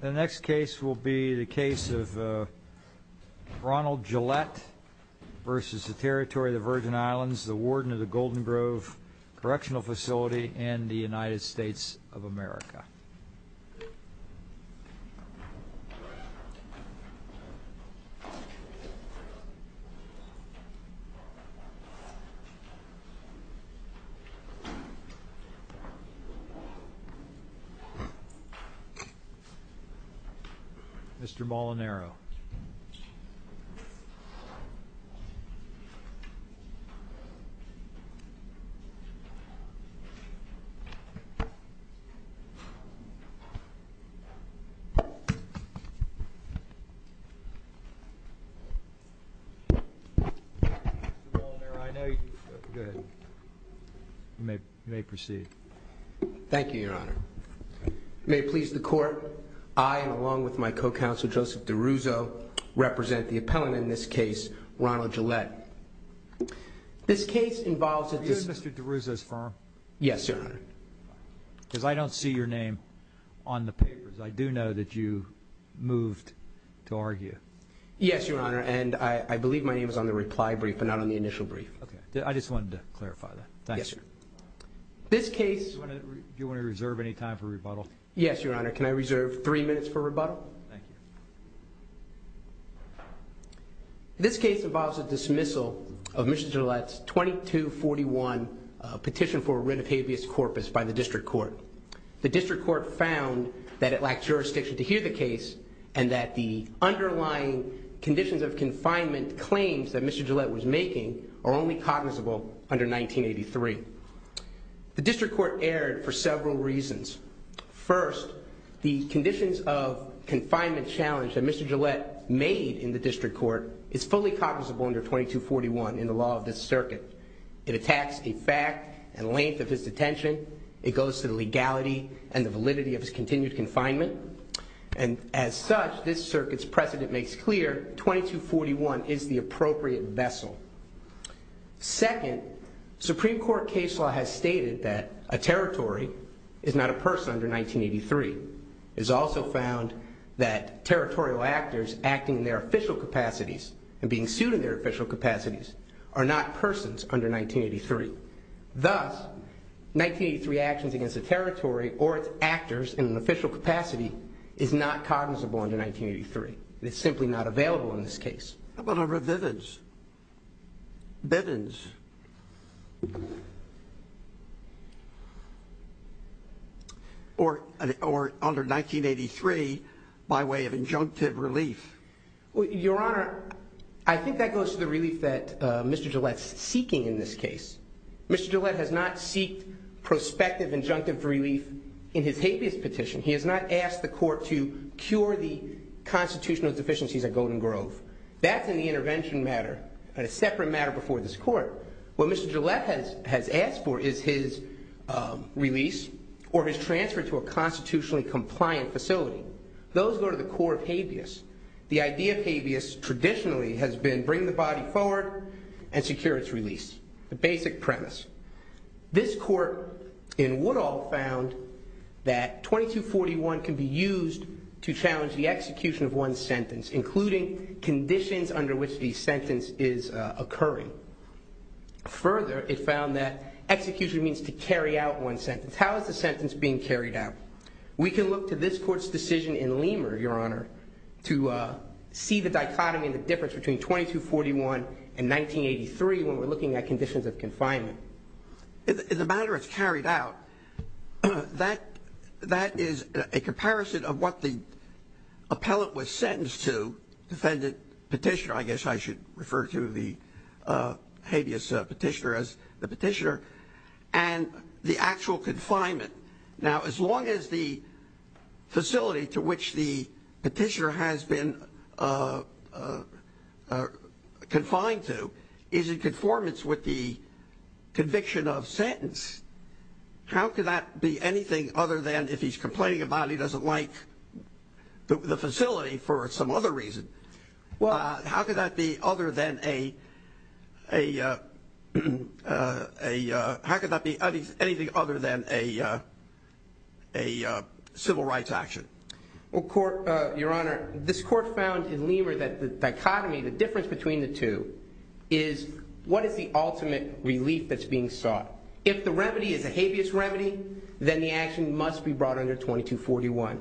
The next case will be the case of Ronald Gillette versus the Territory of the Virgin Islands, the Warden of the Golden Grove Correctional Facility in the United States of America. Mr. Molinaro. You may proceed. Thank you, Your Honor. May it please the Court, I, along with my co-counsel, Joseph DiRusso, represent the appellant in this case, Ronald Gillette. This case involves... Are you Mr. DiRusso's firm? Yes, Your Honor. Because I don't see your name on the papers. I do know that you moved to argue. Yes, Your Honor, and I believe my name is on the reply brief and not on the initial brief. Okay. I just wanted to clarify that. Yes, sir. This case... Do you want to reserve any time for rebuttal? Yes, Your Honor. Can I reserve three minutes for rebuttal? Thank you. This case involves a dismissal of Mr. Gillette's 2241 petition for a writ of habeas corpus by the District Court. The District Court found that it lacked jurisdiction to hear the case and that the underlying conditions of confinement claims that Mr. Gillette was making are only cognizable under 1983. The District Court erred for several reasons. First, the conditions of confinement challenge that Mr. Gillette made in the District Court is fully cognizable under 2241 in the law of this circuit. It attacks a fact and length of his detention. It goes to the legality and the validity of his continued confinement. And as such, this circuit's precedent makes clear 2241 is the appropriate vessel. Second, Supreme Court case law has stated that a territory is not a person under 1983. It is also found that territorial actors acting in their official capacities and being sued in their official capacities are not persons under 1983. Thus, 1983 actions against a territory or its actors in an official capacity is not cognizable under 1983. It's simply not available in this case. How about under Bivens? Bivens. Or under 1983 by way of injunctive relief. Your Honor, I think that goes to the relief that Mr. Gillette's seeking in this case. Mr. Gillette has not seeked prospective injunctive relief in his habeas petition. He has not asked the court to cure the constitutional deficiencies at Golden Grove. That's in the intervention matter, a separate matter before this court. What Mr. Gillette has asked for is his release or his transfer to a constitutionally compliant facility. Those go to the core of habeas. The idea of habeas traditionally has been bring the body forward and secure its release, the basic premise. This court in Woodall found that 2241 can be used to challenge the execution of one sentence, including conditions under which the sentence is occurring. Further, it found that execution means to carry out one sentence. How is the sentence being carried out? We can look to this court's decision in Lemur, Your Honor, to see the dichotomy and the difference between 2241 and 1983 when we're looking at conditions of confinement. In the manner it's carried out, that is a comparison of what the appellant was sentenced to, defendant, petitioner, I guess I should refer to the habeas petitioner as the petitioner, and the actual confinement. Now, as long as the facility to which the petitioner has been confined to is in conformance with the conviction of sentence, how could that be anything other than if he's complaining about he doesn't like the facility for some other reason? How could that be anything other than a civil rights action? Your Honor, this court found in Lemur that the dichotomy, the difference between the two, is what is the ultimate relief that's being sought. If the remedy is a habeas remedy, then the action must be brought under 2241.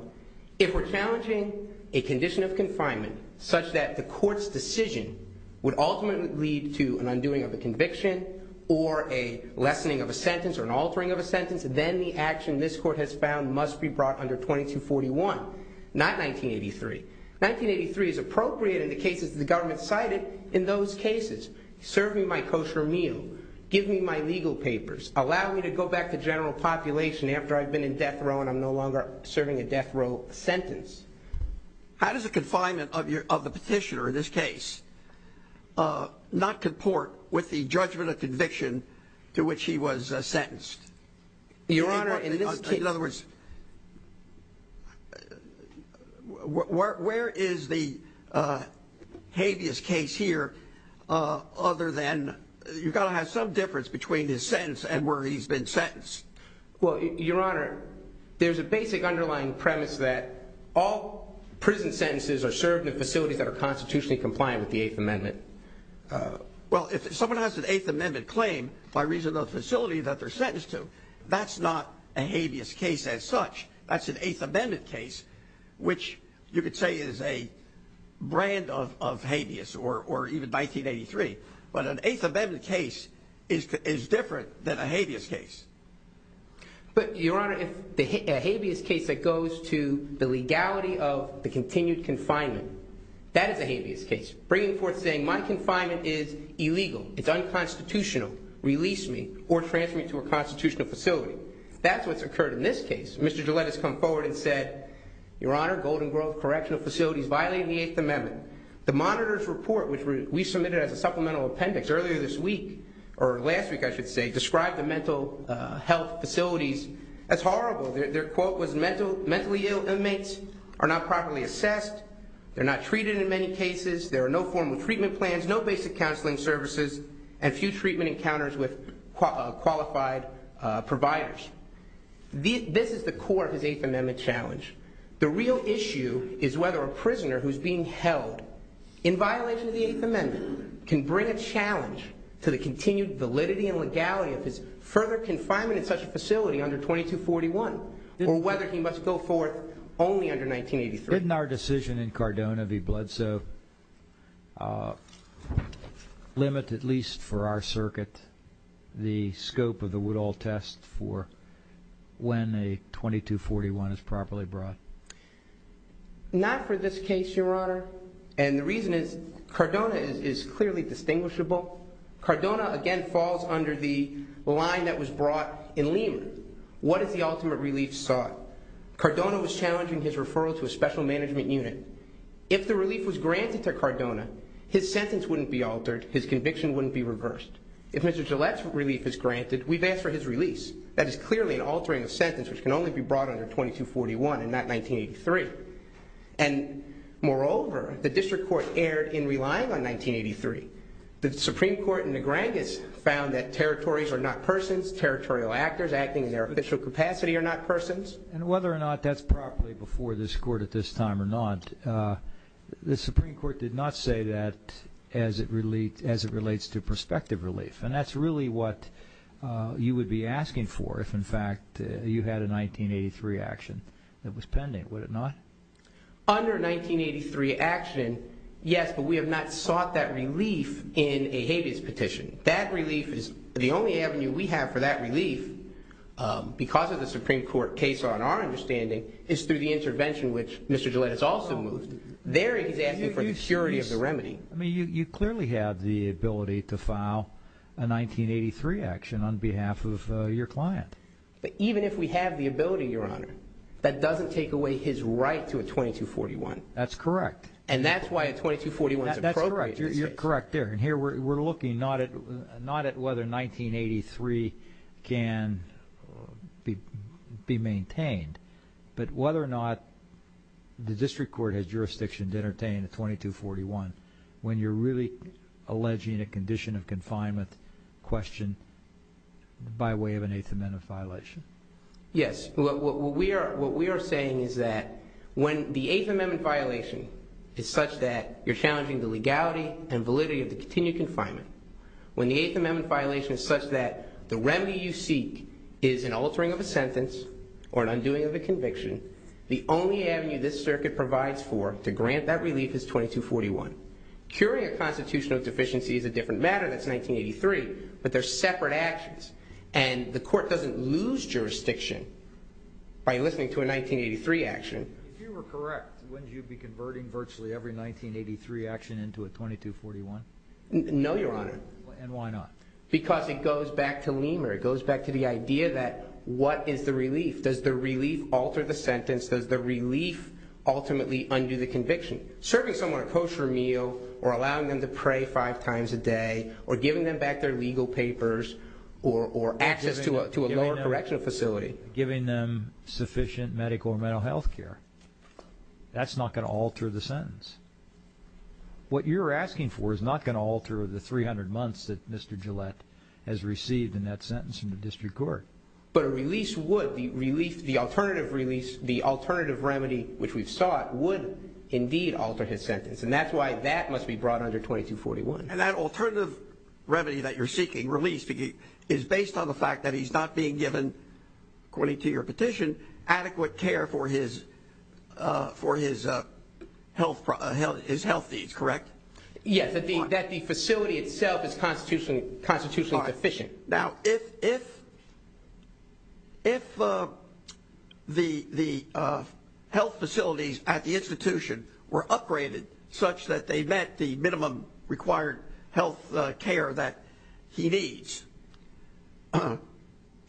If we're challenging a condition of confinement such that the court's decision would ultimately lead to an undoing of a conviction or a lessening of a sentence or an altering of a sentence, then the action this court has found must be brought under 2241, not 1983. 1983 is appropriate in the cases the government cited in those cases. Serve me my kosher meal. Give me my legal papers. Allow me to go back to general population after I've been in death row and I'm no longer serving a death row sentence. How does a confinement of the petitioner in this case not comport with the judgment of conviction to which he was sentenced? Your Honor, in other words, where is the habeas case here other than you've got to have some difference between his sentence and where he's been sentenced? Well, Your Honor, there's a basic underlying premise that all prison sentences are served in facilities that are constitutionally compliant with the Eighth Amendment. Well, if someone has an Eighth Amendment claim by reason of the facility that they're sentenced to, that's not a habeas case as such. That's an Eighth Amendment case, which you could say is a brand of habeas or even 1983. But an Eighth Amendment case is different than a habeas case. But, Your Honor, if a habeas case that goes to the legality of the continued confinement, that is a habeas case. Bringing forth saying my confinement is illegal, it's unconstitutional, release me or transfer me to a constitutional facility. That's what's occurred in this case. Mr. Gillette has come forward and said, Your Honor, Golden Grove Correctional Facility is violating the Eighth Amendment. The Monitor's report, which we submitted as a supplemental appendix earlier this week, or last week I should say, described the mental health facilities as horrible. Their quote was mentally ill inmates are not properly assessed, they're not treated in many cases, there are no formal treatment plans, no basic counseling services, and few treatment encounters with qualified providers. This is the core of his Eighth Amendment challenge. The real issue is whether a prisoner who's being held in violation of the Eighth Amendment can bring a challenge to the continued validity and legality of his further confinement in such a facility under 2241. Or whether he must go forth only under 1983. Didn't our decision in Cardona v. Bledsoe limit, at least for our circuit, the scope of the Woodall test for when a 2241 is properly brought? Not for this case, Your Honor. And the reason is Cardona is clearly distinguishable. Cardona, again, falls under the line that was brought in Lehman. What is the ultimate relief sought? Cardona was challenging his referral to a special management unit. If the relief was granted to Cardona, his sentence wouldn't be altered, his conviction wouldn't be reversed. If Mr. Gillette's relief is granted, we've asked for his release. That is clearly an altering of sentence which can only be brought under 2241 and not 1983. And moreover, the district court erred in relying on 1983. The Supreme Court in Negrangis found that territories are not persons, territorial actors acting in their official capacity are not persons. And whether or not that's properly before this Court at this time or not, the Supreme Court did not say that as it relates to prospective relief. And that's really what you would be asking for if, in fact, you had a 1983 action that was pending, would it not? Under 1983 action, yes, but we have not sought that relief in a habeas petition. That relief is the only avenue we have for that relief because of the Supreme Court case on our understanding is through the intervention which Mr. Gillette has also moved. There he's asking for the purity of the remedy. I mean, you clearly have the ability to file a 1983 action on behalf of your client. But even if we have the ability, Your Honor, that doesn't take away his right to a 2241. That's correct. And that's why a 2241 is appropriate. That's correct. You're correct there. And here we're looking not at whether 1983 can be maintained, but whether or not the district court has jurisdiction to entertain a 2241 when you're really alleging a condition of confinement question by way of an Eighth Amendment violation. Yes. What we are saying is that when the Eighth Amendment violation is such that you're challenging the legality and validity of the continued confinement, when the Eighth Amendment violation is such that the remedy you seek is an altering of a sentence or an undoing of a conviction, the only avenue this circuit provides for to grant that relief is 2241. Curing a constitutional deficiency is a different matter. That's 1983. But they're separate actions. And the court doesn't lose jurisdiction by listening to a 1983 action. If you were correct, wouldn't you be converting virtually every 1983 action into a 2241? No, Your Honor. And why not? Because it goes back to Lehmer. It goes back to the idea that what is the relief? Does the relief alter the sentence? Does the relief ultimately undo the conviction? Serving someone a kosher meal or allowing them to pray five times a day or giving them back their legal papers or access to a lower correctional facility. Giving them sufficient medical or mental health care. That's not going to alter the sentence. What you're asking for is not going to alter the 300 months that Mr. Gillette has received in that sentence from the district court. But a release would. The alternative release, the alternative remedy, which we've sought, would indeed alter his sentence. And that's why that must be brought under 2241. And that alternative remedy that you're seeking, release, is based on the fact that he's not being given, according to your petition, adequate care for his health needs, correct? Yes, that the facility itself is constitutionally deficient. Now, if the health facilities at the institution were upgraded such that they met the minimum required health care that he needs,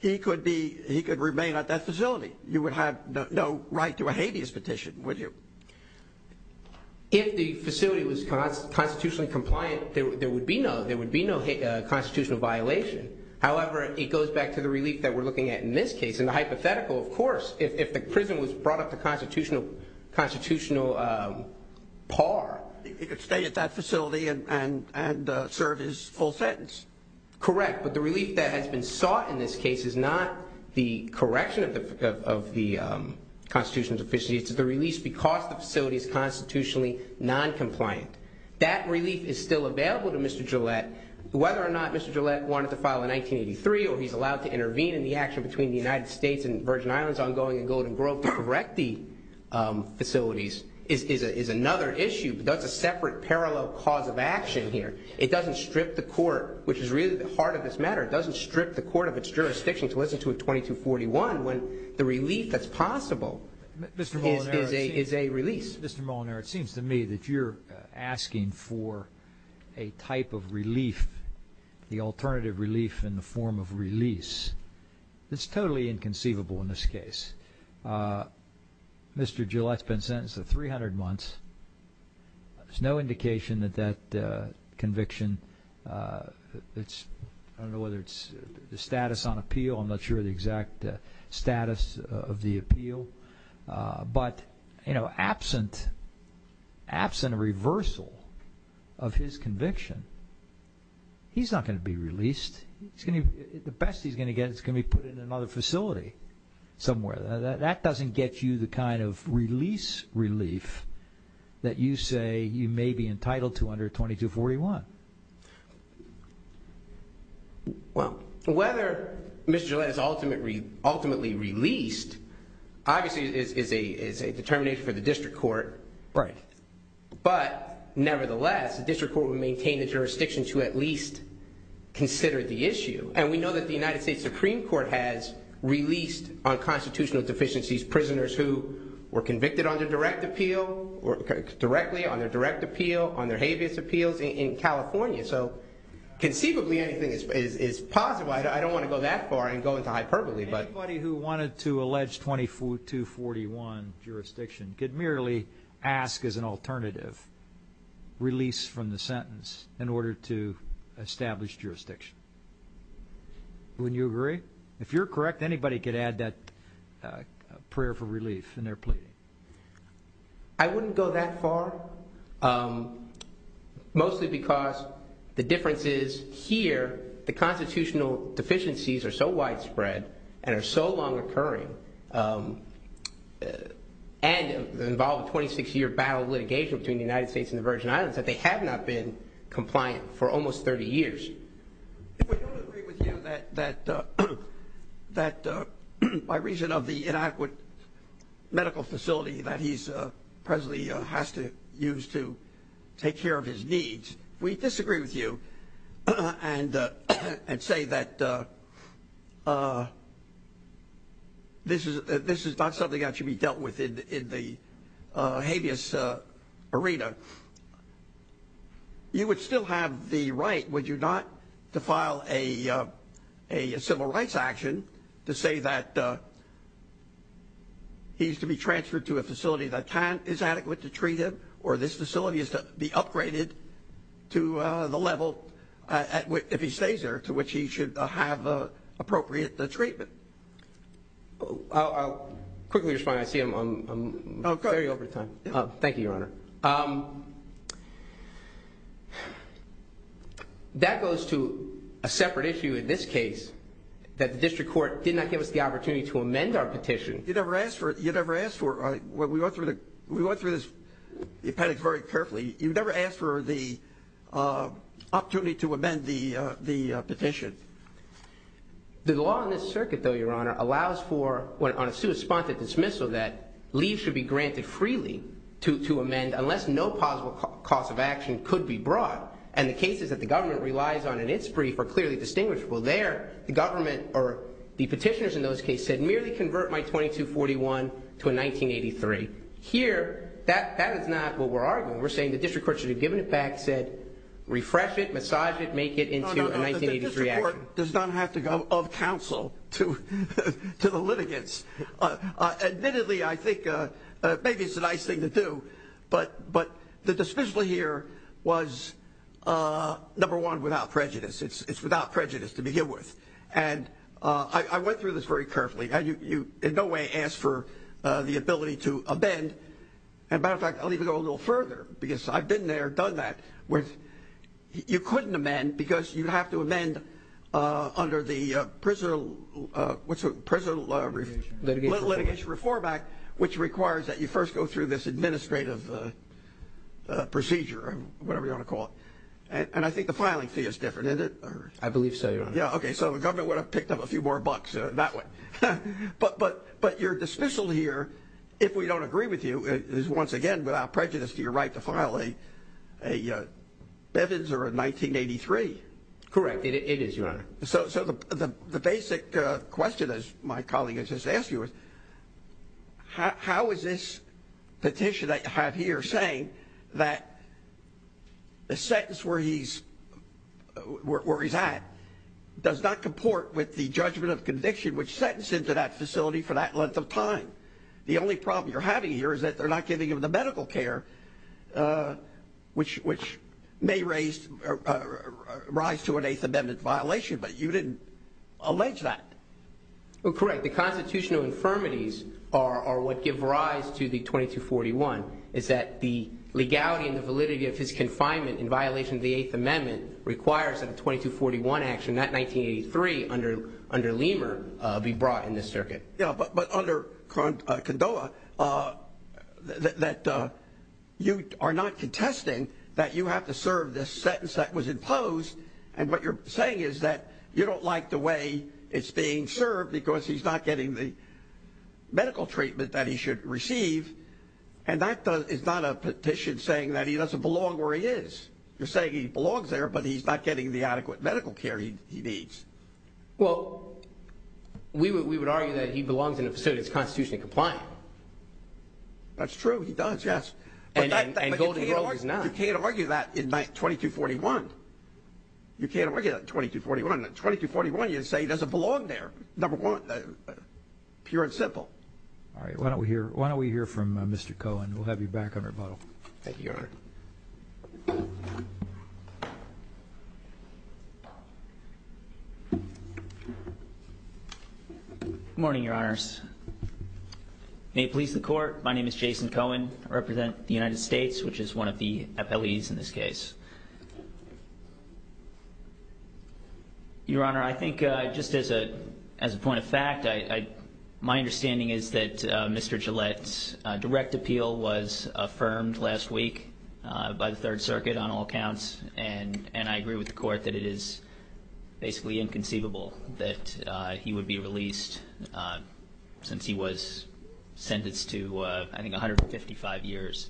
he could remain at that facility. You would have no right to a habeas petition, would you? If the facility was constitutionally compliant, there would be no constitutional violation. However, it goes back to the relief that we're looking at in this case. And the hypothetical, of course, if the prison was brought up to constitutional par. He could stay at that facility and serve his full sentence. Correct. But the relief that has been sought in this case is not the correction of the constitutional deficiency. It's the release because the facility is constitutionally noncompliant. That relief is still available to Mr. Gillette. Whether or not Mr. Gillette wanted to file in 1983 or he's allowed to intervene in the action between the United States and Virgin Islands, ongoing in Golden Grove, to correct the facilities is another issue. But that's a separate parallel cause of action here. It doesn't strip the court, which is really the heart of this matter. It doesn't strip the court of its jurisdiction to listen to a 2241 when the relief that's possible is a release. Mr. Molinari, it seems to me that you're asking for a type of relief, the alternative relief in the form of release. It's totally inconceivable in this case. Mr. Gillette's been sentenced to 300 months. There's no indication that that conviction, I don't know whether it's the status on appeal. I'm not sure the exact status of the appeal. But absent a reversal of his conviction, he's not going to be released. The best he's going to get is going to be put in another facility somewhere. That doesn't get you the kind of release relief that you say you may be entitled to under 2241. Well, whether Mr. Gillette is ultimately released obviously is a determination for the district court. Right. But nevertheless, the district court would maintain the jurisdiction to at least consider the issue. And we know that the United States Supreme Court has released on constitutional deficiencies prisoners who were convicted on their direct appeal, on their habeas appeals in California. So conceivably anything is possible. I don't want to go that far and go into hyperbole. Anybody who wanted to allege 2241 jurisdiction could merely ask as an alternative release from the sentence in order to establish jurisdiction. Wouldn't you agree? If you're correct, anybody could add that prayer for relief in their plea. I wouldn't go that far, mostly because the difference is here the constitutional deficiencies are so widespread and are so long-occurring and involve a 26-year battle litigation between the United States and the Virgin Islands that they have not been compliant for almost 30 years. We don't agree with you that by reason of the inadequate medical facility that he presently has to use to take care of his needs, we disagree with you and say that this is not something that should be dealt with in the habeas arena. You would still have the right, would you not, to file a civil rights action to say that he's to be transferred to a facility that is adequate to treat him or this facility is to be upgraded to the level, if he stays there, to which he should have appropriate treatment. I'll quickly respond. I see I'm very over time. Thank you, Your Honor. That goes to a separate issue in this case, that the district court did not give us the opportunity to amend our petition. You never asked for it. You never asked for it. We went through this very carefully. You never asked for the opportunity to amend the petition. The law in this circuit, though, Your Honor, allows for, on a suit of sponsored dismissal, that leaves should be granted freely to amend unless no possible cause of action could be brought. And the cases that the government relies on in its brief are clearly distinguishable. There, the petitioners in those cases said merely convert my 2241 to a 1983. Here, that is not what we're arguing. We're saying the district court should have given it back, said refresh it, massage it, make it into a 1983 action. The district court does not have to go of counsel to the litigants. Admittedly, I think maybe it's a nice thing to do, but the dismissal here was, number one, without prejudice. It's without prejudice to begin with. And I went through this very carefully. You in no way asked for the ability to amend. As a matter of fact, I'll even go a little further because I've been there, done that. You couldn't amend because you'd have to amend under the prison litigation reform act, which requires that you first go through this administrative procedure or whatever you want to call it. And I think the filing fee is different, isn't it? I believe so, Your Honor. Yeah, okay, so the government would have picked up a few more bucks that way. But your dismissal here, if we don't agree with you, is once again without prejudice to your right to file a Bevins or a 1983. Correct, it is, Your Honor. So the basic question, as my colleague has just asked you, is how is this petition I have here saying that the sentence where he's at does not comport with the judgment of conviction which sentenced him to that facility for that length of time? The only problem you're having here is that they're not giving him the medical care, which may rise to an Eighth Amendment violation, but you didn't allege that. Well, correct. The constitutional infirmities are what give rise to the 2241, is that the legality and the validity of his confinement in violation of the Eighth Amendment requires that a 2241 action, not 1983, under Lemur, be brought in this circuit. Yeah, but under Condola, that you are not contesting that you have to serve this sentence that was imposed, and what you're saying is that you don't like the way it's being served because he's not getting the medical treatment that he should receive, and that is not a petition saying that he doesn't belong where he is. You're saying he belongs there, but he's not getting the adequate medical care he needs. Well, we would argue that he belongs in a facility that's constitutionally compliant. That's true, he does, yes. And Golden Grove is not. You can't argue that in 2241. You can't argue that in 2241. In 2241, you say he doesn't belong there, number one, pure and simple. All right, why don't we hear from Mr. Cohen. We'll have you back on rebuttal. Thank you, Your Honor. Good morning, Your Honors. May it please the Court, my name is Jason Cohen. I represent the United States, which is one of the appellees in this case. Your Honor, I think just as a point of fact, my understanding is that Mr. Gillette's direct appeal was affirmed last week by the Third Circuit on all accounts, and I agree with the Court that it is basically inconceivable that he would be released since he was sentenced to, I think, 155 years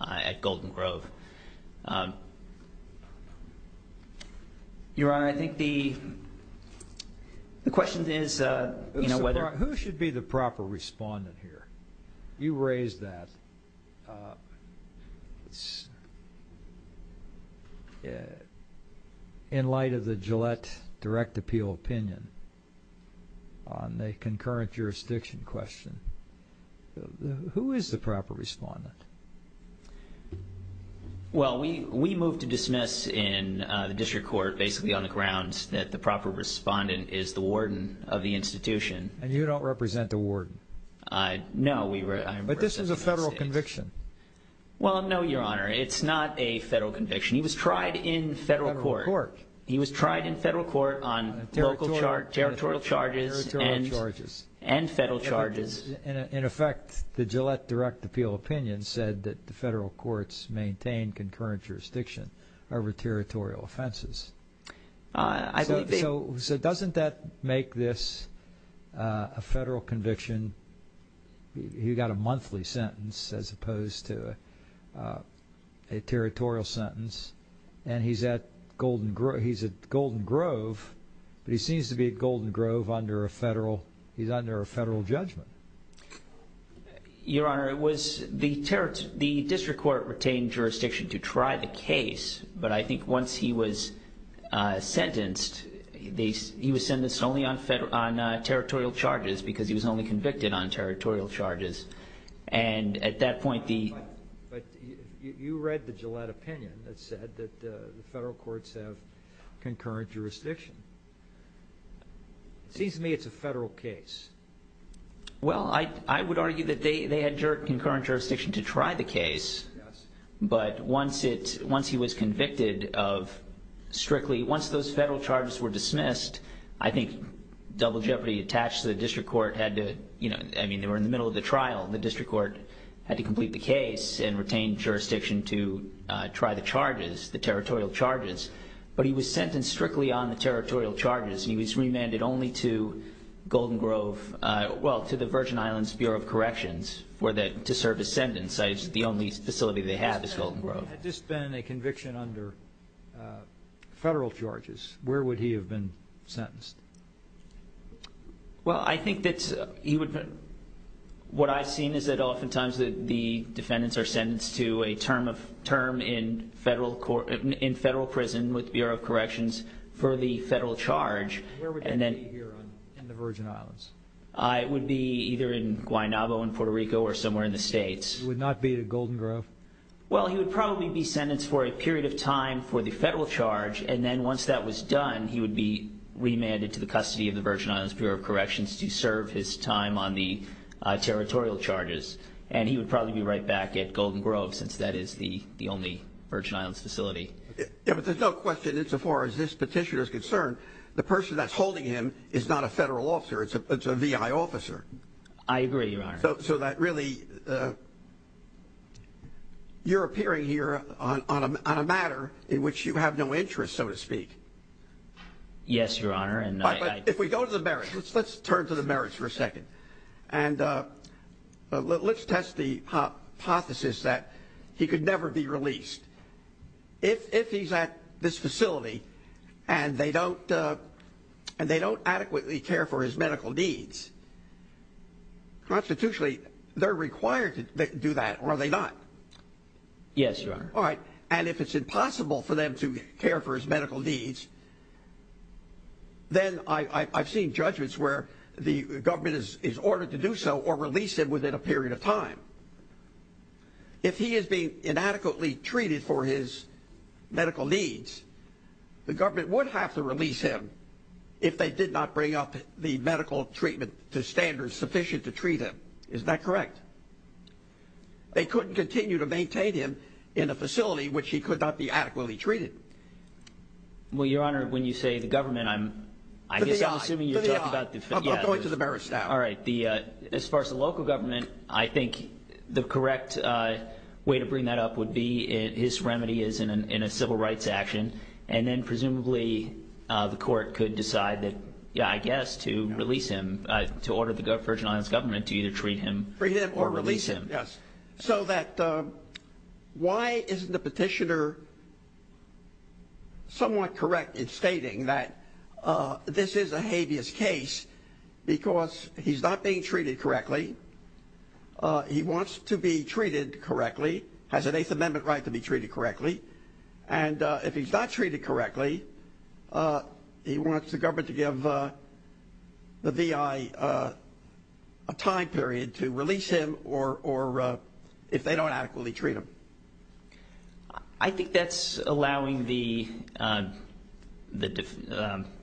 at Golden Grove. Your Honor, I think the question is, you know, whether... Who should be the proper respondent here? You raised that in light of the Gillette direct appeal opinion on the concurrent jurisdiction question. Who is the proper respondent? Well, we moved to dismiss in the district court basically on the grounds that the proper respondent is the warden of the institution. And you don't represent the warden? No, we represent the United States. But this is a federal conviction. Well, no, Your Honor, it's not a federal conviction. He was tried in federal court. Federal court. In effect, the Gillette direct appeal opinion said that the federal courts maintain concurrent jurisdiction over territorial offenses. So doesn't that make this a federal conviction? He got a monthly sentence as opposed to a territorial sentence, and he's at Golden Grove, but he seems to be at Golden Grove under a federal judgment. Your Honor, the district court retained jurisdiction to try the case, but I think once he was sentenced, he was sentenced only on territorial charges because he was only convicted on territorial charges. But you read the Gillette opinion that said that the federal courts have concurrent jurisdiction. It seems to me it's a federal case. Well, I would argue that they had concurrent jurisdiction to try the case, but once he was convicted of strictly – once those federal charges were dismissed, I think double jeopardy attached to the district court had to – I mean, they were in the middle of the trial, and the district court had to complete the case and retain jurisdiction to try the charges, the territorial charges. But he was sentenced strictly on the territorial charges, and he was remanded only to Golden Grove – well, to the Virgin Islands Bureau of Corrections to serve his sentence. The only facility they have is Golden Grove. Had this been a conviction under federal charges, where would he have been sentenced? Well, I think that he would – what I've seen is that oftentimes the defendants are sentenced to a term of – term in federal prison with the Bureau of Corrections for the federal charge, and then – Where would he be here in the Virgin Islands? It would be either in Guaynabo in Puerto Rico or somewhere in the States. He would not be at Golden Grove? Well, he would probably be sentenced for a period of time for the federal charge, and then once that was done, he would be remanded to the custody of the Virgin Islands Bureau of Corrections to serve his time on the territorial charges. And he would probably be right back at Golden Grove, since that is the only Virgin Islands facility. Yeah, but there's no question, insofar as this petitioner is concerned, the person that's holding him is not a federal officer. It's a VI officer. I agree, Your Honor. So that really – you're appearing here on a matter in which you have no interest, so to speak. Yes, Your Honor, and I – If we go to the merits, let's turn to the merits for a second, and let's test the hypothesis that he could never be released. If he's at this facility and they don't adequately care for his medical needs, constitutionally, they're required to do that, or are they not? Yes, Your Honor. All right, and if it's impossible for them to care for his medical needs, then I've seen judgments where the government is ordered to do so or release him within a period of time. If he is being inadequately treated for his medical needs, the government would have to release him if they did not bring up the medical treatment standards sufficient to treat him. Is that correct? They couldn't continue to maintain him in a facility which he could not be adequately treated. Well, Your Honor, when you say the government, I'm – To the I. To the I. I'm going to the merits now. All right. As far as the local government, I think the correct way to bring that up would be his remedy is in a civil rights action, and then presumably the court could decide that, yeah, I guess, to release him, to order the Virgin Islands government to either treat him or release him. Treat him or release him, yes. So that why isn't the petitioner somewhat correct in stating that this is a habeas case because he's not being treated correctly, he wants to be treated correctly, has an Eighth Amendment right to be treated correctly, and if he's not treated correctly, he wants the government to give the V.I. a time period to release him or if they don't adequately treat him. I think that's allowing the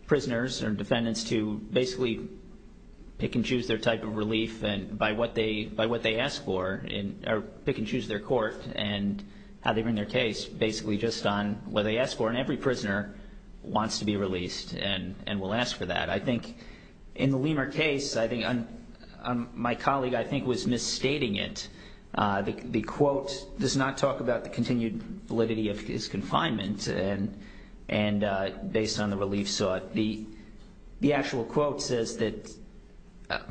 prisoners or defendants to basically pick and choose their type of relief by what they ask for or pick and choose their court and how they bring their case basically just on what they ask for, and every prisoner wants to be released and will ask for that. I think in the Lemer case, my colleague, I think, was misstating it. The quote does not talk about the continued validity of his confinement based on the relief sought. The actual quote says that the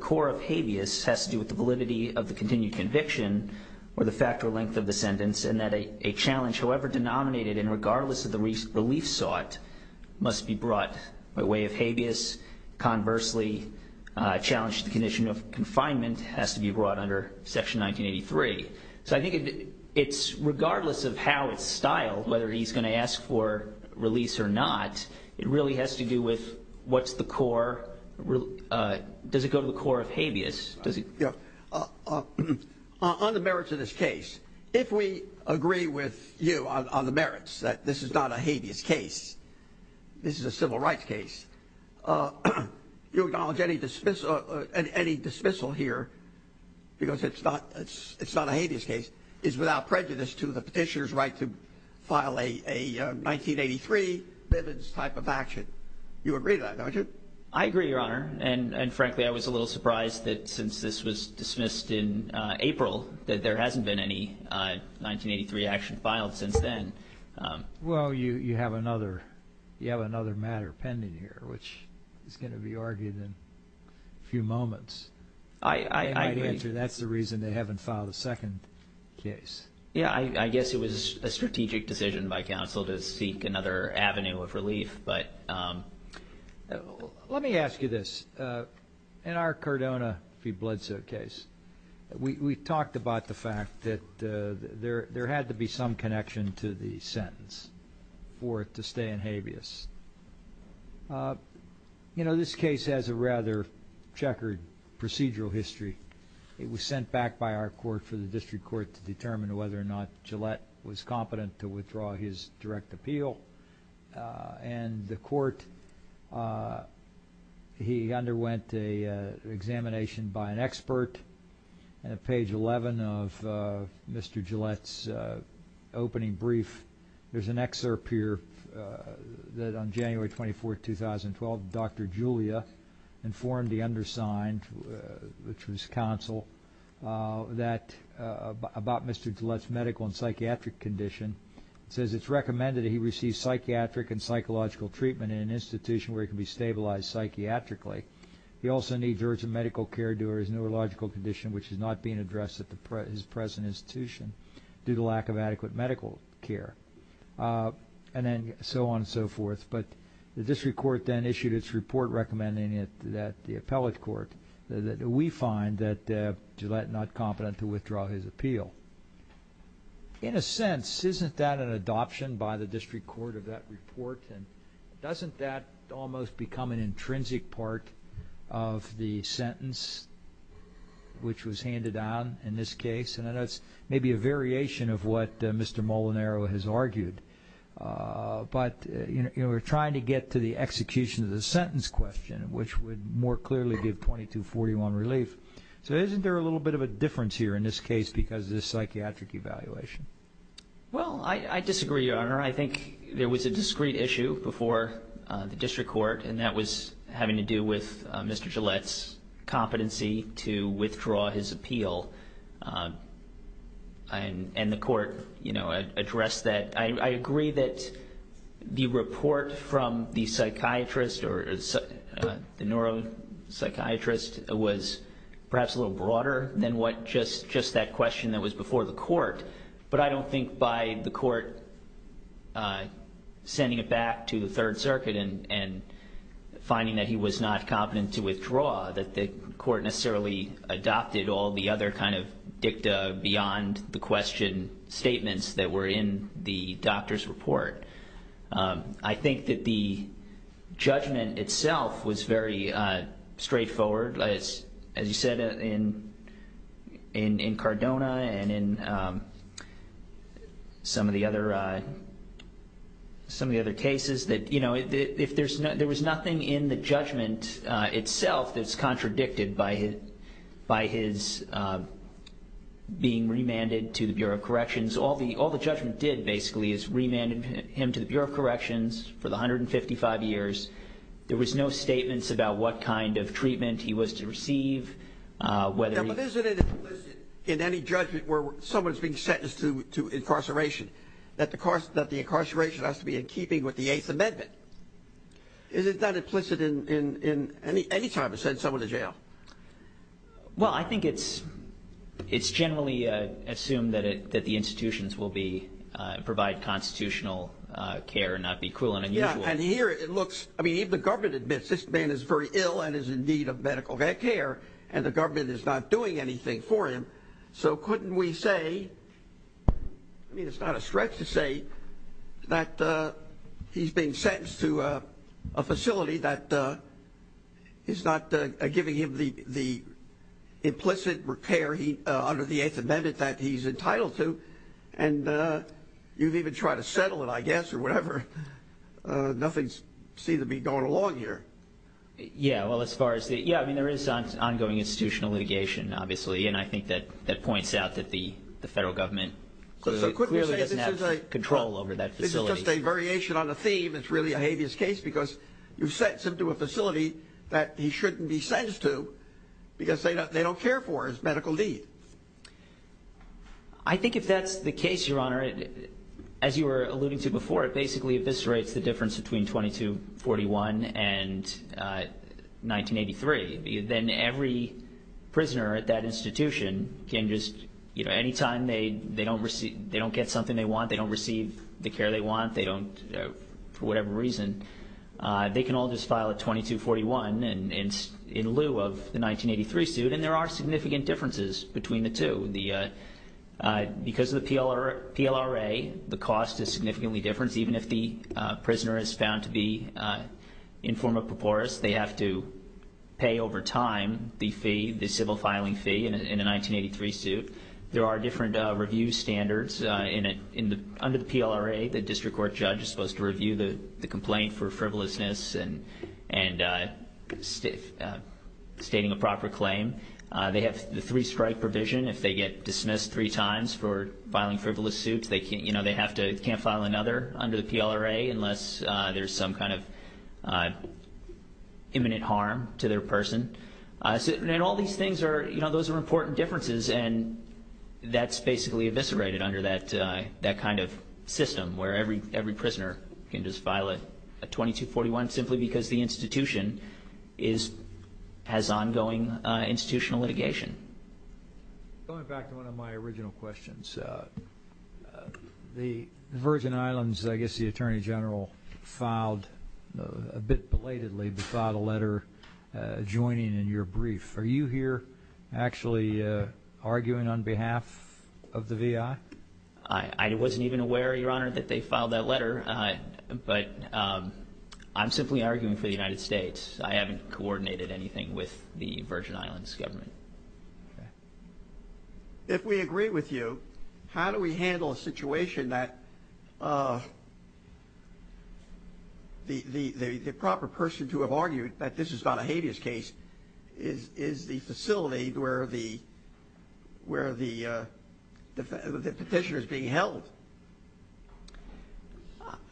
core of habeas has to do with the validity of the continued conviction or the fact or length of the sentence and that a challenge, however denominated and regardless of the relief sought, must be brought by way of habeas. Conversely, a challenge to the condition of confinement has to be brought under Section 1983. So I think it's regardless of how it's styled, whether he's going to ask for release or not, it really has to do with what's the core. Does it go to the core of habeas? On the merits of this case, if we agree with you on the merits that this is not a habeas case, this is a civil rights case, you acknowledge any dismissal here, because it's not a habeas case, is without prejudice to the petitioner's right to file a 1983 Bivens type of action. You agree to that, don't you? I agree, Your Honor, and frankly I was a little surprised that since this was dismissed in April that there hasn't been any 1983 action filed since then. Well, you have another matter pending here, which is going to be argued in a few moments. I might answer that's the reason they haven't filed a second case. Yeah, I guess it was a strategic decision by counsel to seek another avenue of relief, but let me ask you this. In our Cardona v. Bledsoe case, we talked about the fact that there had to be some connection to the sentence for it to stay in habeas. You know, this case has a rather checkered procedural history. It was sent back by our court for the district court to determine whether or not In the court, he underwent an examination by an expert. On page 11 of Mr. Gillette's opening brief, there's an excerpt here that on January 24, 2012, Dr. Julia informed the undersigned, which was counsel, about Mr. Gillette's medical and psychiatric condition. It says it's recommended that he receive psychiatric and psychological treatment in an institution where he can be stabilized psychiatrically. He also needs urgent medical care due to his neurological condition, which is not being addressed at his present institution due to lack of adequate medical care, and then so on and so forth. But the district court then issued its report recommending it to the appellate court that we find that Gillette not competent to withdraw his appeal. In a sense, isn't that an adoption by the district court of that report? And doesn't that almost become an intrinsic part of the sentence which was handed down in this case? And I know it's maybe a variation of what Mr. Molinaro has argued. But, you know, we're trying to get to the execution of the sentence question, which would more clearly give 2241 relief. So isn't there a little bit of a difference here in this case because of this psychiatric evaluation? Well, I disagree, Your Honor. I think there was a discrete issue before the district court, and that was having to do with Mr. Gillette's competency to withdraw his appeal. And the court, you know, addressed that. I agree that the report from the psychiatrist or the neuropsychiatrist was perhaps a little broader than just that question that was before the court. But I don't think by the court sending it back to the Third Circuit and finding that he was not competent to withdraw that the court necessarily adopted all the other kind of dicta beyond the question statements that were in the doctor's report. I think that the judgment itself was very straightforward. As you said, in Cardona and in some of the other cases, there was nothing in the judgment itself that's contradicted by his being remanded to the Bureau of Corrections. All the judgment did, basically, is remanded him to the Bureau of Corrections for the 155 years. There was no statements about what kind of treatment he was to receive. But isn't it implicit in any judgment where someone's being sentenced to incarceration that the incarceration has to be in keeping with the Eighth Amendment? Isn't that implicit in any time of sending someone to jail? Well, I think it's generally assumed that the institutions will provide constitutional care and not be cruel and unusual. Yeah, and here it looks, I mean, even the government admits this man is very ill and is in need of medical care, and the government is not doing anything for him. So couldn't we say, I mean, it's not a stretch to say that he's being sentenced to a facility that is not giving him the implicit repair under the Eighth Amendment that he's entitled to, and you've even tried to settle it, I guess, or whatever. Nothing seems to be going along here. Yeah, well, as far as the ‑‑ yeah, I mean, there is ongoing institutional litigation, obviously, and I think that points out that the federal government clearly doesn't have control over that facility. This is just a variation on the theme. It's really a habeas case because you sent him to a facility that he shouldn't be sentenced to because they don't care for his medical need. I think if that's the case, Your Honor, as you were alluding to before, it basically eviscerates the difference between 2241 and 1983. Then every prisoner at that institution can just, you know, any time they don't get something they want, they don't receive the care they want, they don't, for whatever reason, they can all just file a 2241 in lieu of the 1983 suit, and there are significant differences between the two. Because of the PLRA, the cost is significantly different. Because even if the prisoner is found to be informed of purpose, they have to pay over time the fee, the civil filing fee, in a 1983 suit. There are different review standards. Under the PLRA, the district court judge is supposed to review the complaint for frivolousness and stating a proper claim. They have the three‑strike provision. If they get dismissed three times for filing frivolous suits, they can't file another under the PLRA unless there's some kind of imminent harm to their person. And all these things are important differences, and that's basically eviscerated under that kind of system where every prisoner can just file a 2241 simply because the institution has ongoing institutional litigation. Going back to one of my original questions, the Virgin Islands, I guess the Attorney General filed a bit belatedly, filed a letter adjoining in your brief. Are you here actually arguing on behalf of the VI? I wasn't even aware, Your Honor, that they filed that letter, but I'm simply arguing for the United States. I haven't coordinated anything with the Virgin Islands government. If we agree with you, how do we handle a situation that the proper person to have argued that this is not a habeas case is the facility where the petitioner is being held?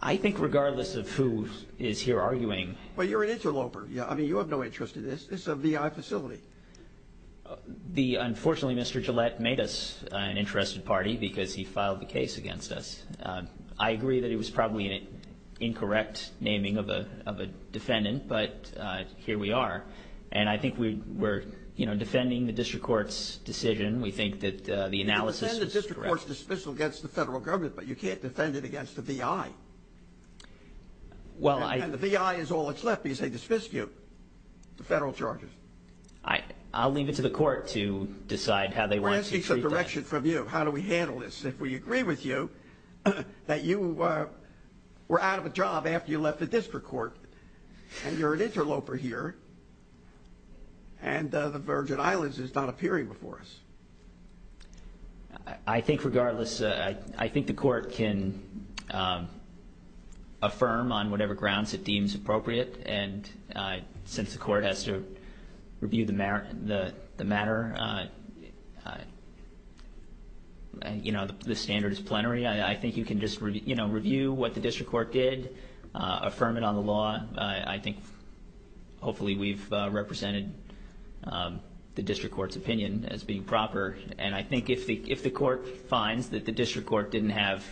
I think regardless of who is here arguing ‑‑ Well, you're an interloper. I mean, you have no interest in this. It's a VI facility. Unfortunately, Mr. Gillette made us an interested party because he filed the case against us. I agree that it was probably an incorrect naming of a defendant, but here we are. And I think we're defending the district court's decision. We think that the analysis is correct. You can defend the district court's dismissal against the federal government, but you can't defend it against the VI. And the VI is all that's left because they dismissed you, the federal charges. I'll leave it to the court to decide how they want to treat that. We're asking for direction from you. How do we handle this? If we agree with you that you were out of a job after you left the district court and you're an interloper here and the Virgin Islands is not appearing before us. I think regardless, I think the court can affirm on whatever grounds it deems appropriate. And since the court has to review the matter, the standard is plenary. I think you can just review what the district court did, affirm it on the law. I think hopefully we've represented the district court's opinion as being proper. And I think if the court finds that the district court didn't have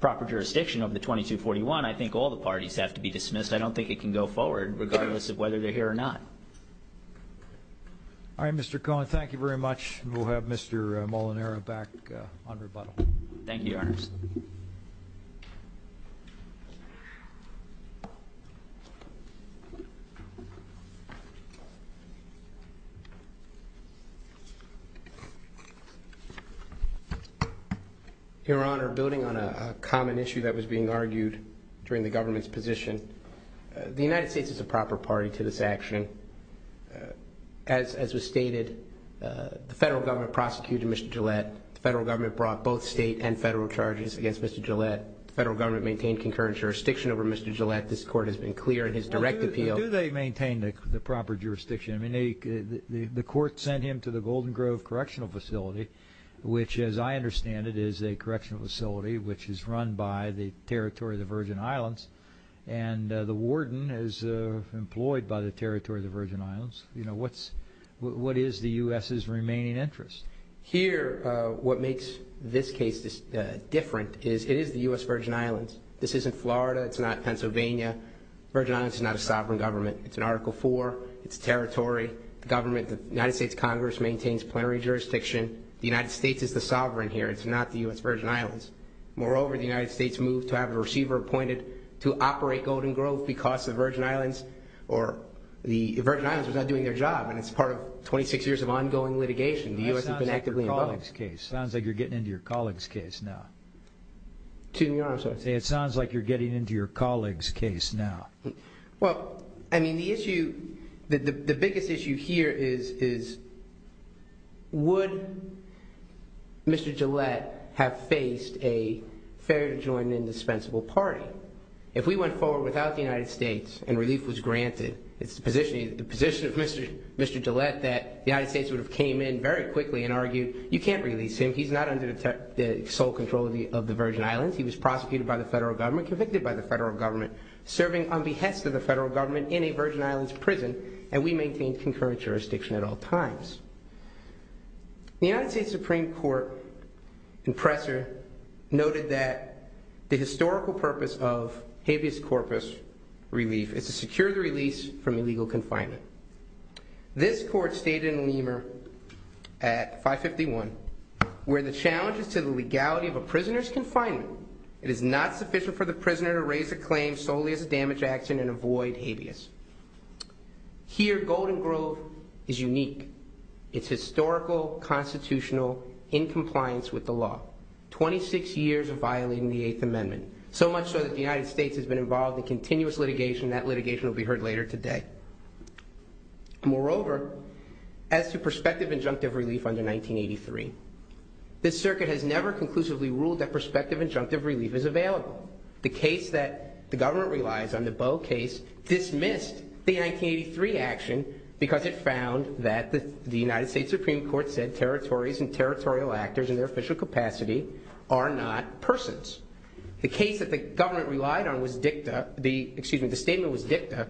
proper jurisdiction over the 2241, I think all the parties have to be dismissed. I don't think it can go forward, regardless of whether they're here or not. All right, Mr. Cohen, thank you very much. Thank you, Your Honors. Your Honor, building on a common issue that was being argued during the government's position, the United States is a proper party to this action. As was stated, the federal government prosecuted Mr. Gillette. The federal government brought both state and federal charges against Mr. Gillette. The federal government maintained concurrent jurisdiction over Mr. Gillette. This court has been clear in his direct appeal. Do they maintain the proper jurisdiction? I mean, the court sent him to the Golden Grove Correctional Facility, which as I understand it is a correctional facility which is run by the Territory of the Virgin Islands, and the warden is employed by the Territory of the Virgin Islands. You know, what is the U.S.'s remaining interest? Here, what makes this case different is it is the U.S. Virgin Islands. This isn't Florida. It's not Pennsylvania. The Virgin Islands is not a sovereign government. It's an Article IV. It's a territory. The government, the United States Congress, maintains plenary jurisdiction. The United States is the sovereign here. It's not the U.S. Virgin Islands. Moreover, the United States moved to have a receiver appointed to operate Golden Grove because the Virgin Islands were not doing their job, and it's part of 26 years of ongoing litigation. The U.S. has been actively involved. That sounds like your colleague's case. It sounds like you're getting into your colleague's case now. Excuse me, Your Honor. I'm sorry. It sounds like you're getting into your colleague's case now. Well, I mean, the issue, the biggest issue here is would Mr. Gillette have faced a fair to join indispensable party? If we went forward without the United States and relief was granted, it's the position of Mr. Gillette that the United States would have came in very quickly and argued, you can't release him. He's not under the sole control of the Virgin Islands. He was prosecuted by the federal government, convicted by the federal government, serving on behest of the federal government in a Virgin Islands prison, and we maintain concurrent jurisdiction at all times. The United States Supreme Court and presser noted that the historical purpose of habeas corpus relief is to secure the release from illegal confinement. This court stated in Lemur at 551, where the challenge is to the legality of a prisoner's confinement, it is not sufficient for the prisoner to raise a claim solely as a damage action and avoid habeas. Here, Golden Grove is unique. It's historical, constitutional, in compliance with the law. Twenty-six years of violating the Eighth Amendment, so much so that the United States has been involved in continuous litigation, and that litigation will be heard later today. Moreover, as to prospective injunctive relief under 1983, this circuit has never conclusively ruled that prospective injunctive relief is available. The case that the government relies on, the Boe case, dismissed the 1983 action because it found that the United States Supreme Court said territories and territorial actors in their official capacity are not persons. The case that the government relied on was dicta, excuse me, the statement was dicta,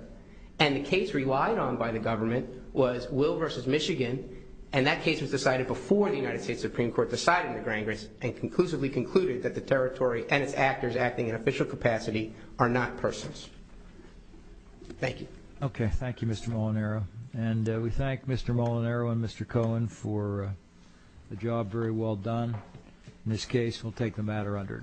and the case relied on by the government was Will v. Michigan, and that case was decided before the United States Supreme Court decided in the grand race and conclusively concluded that the territory and its actors acting in official capacity are not persons. Thank you. Okay. Thank you, Mr. Molinaro. And we thank Mr. Molinaro and Mr. Cohen for the job very well done. In this case, we'll take the matter under advisement.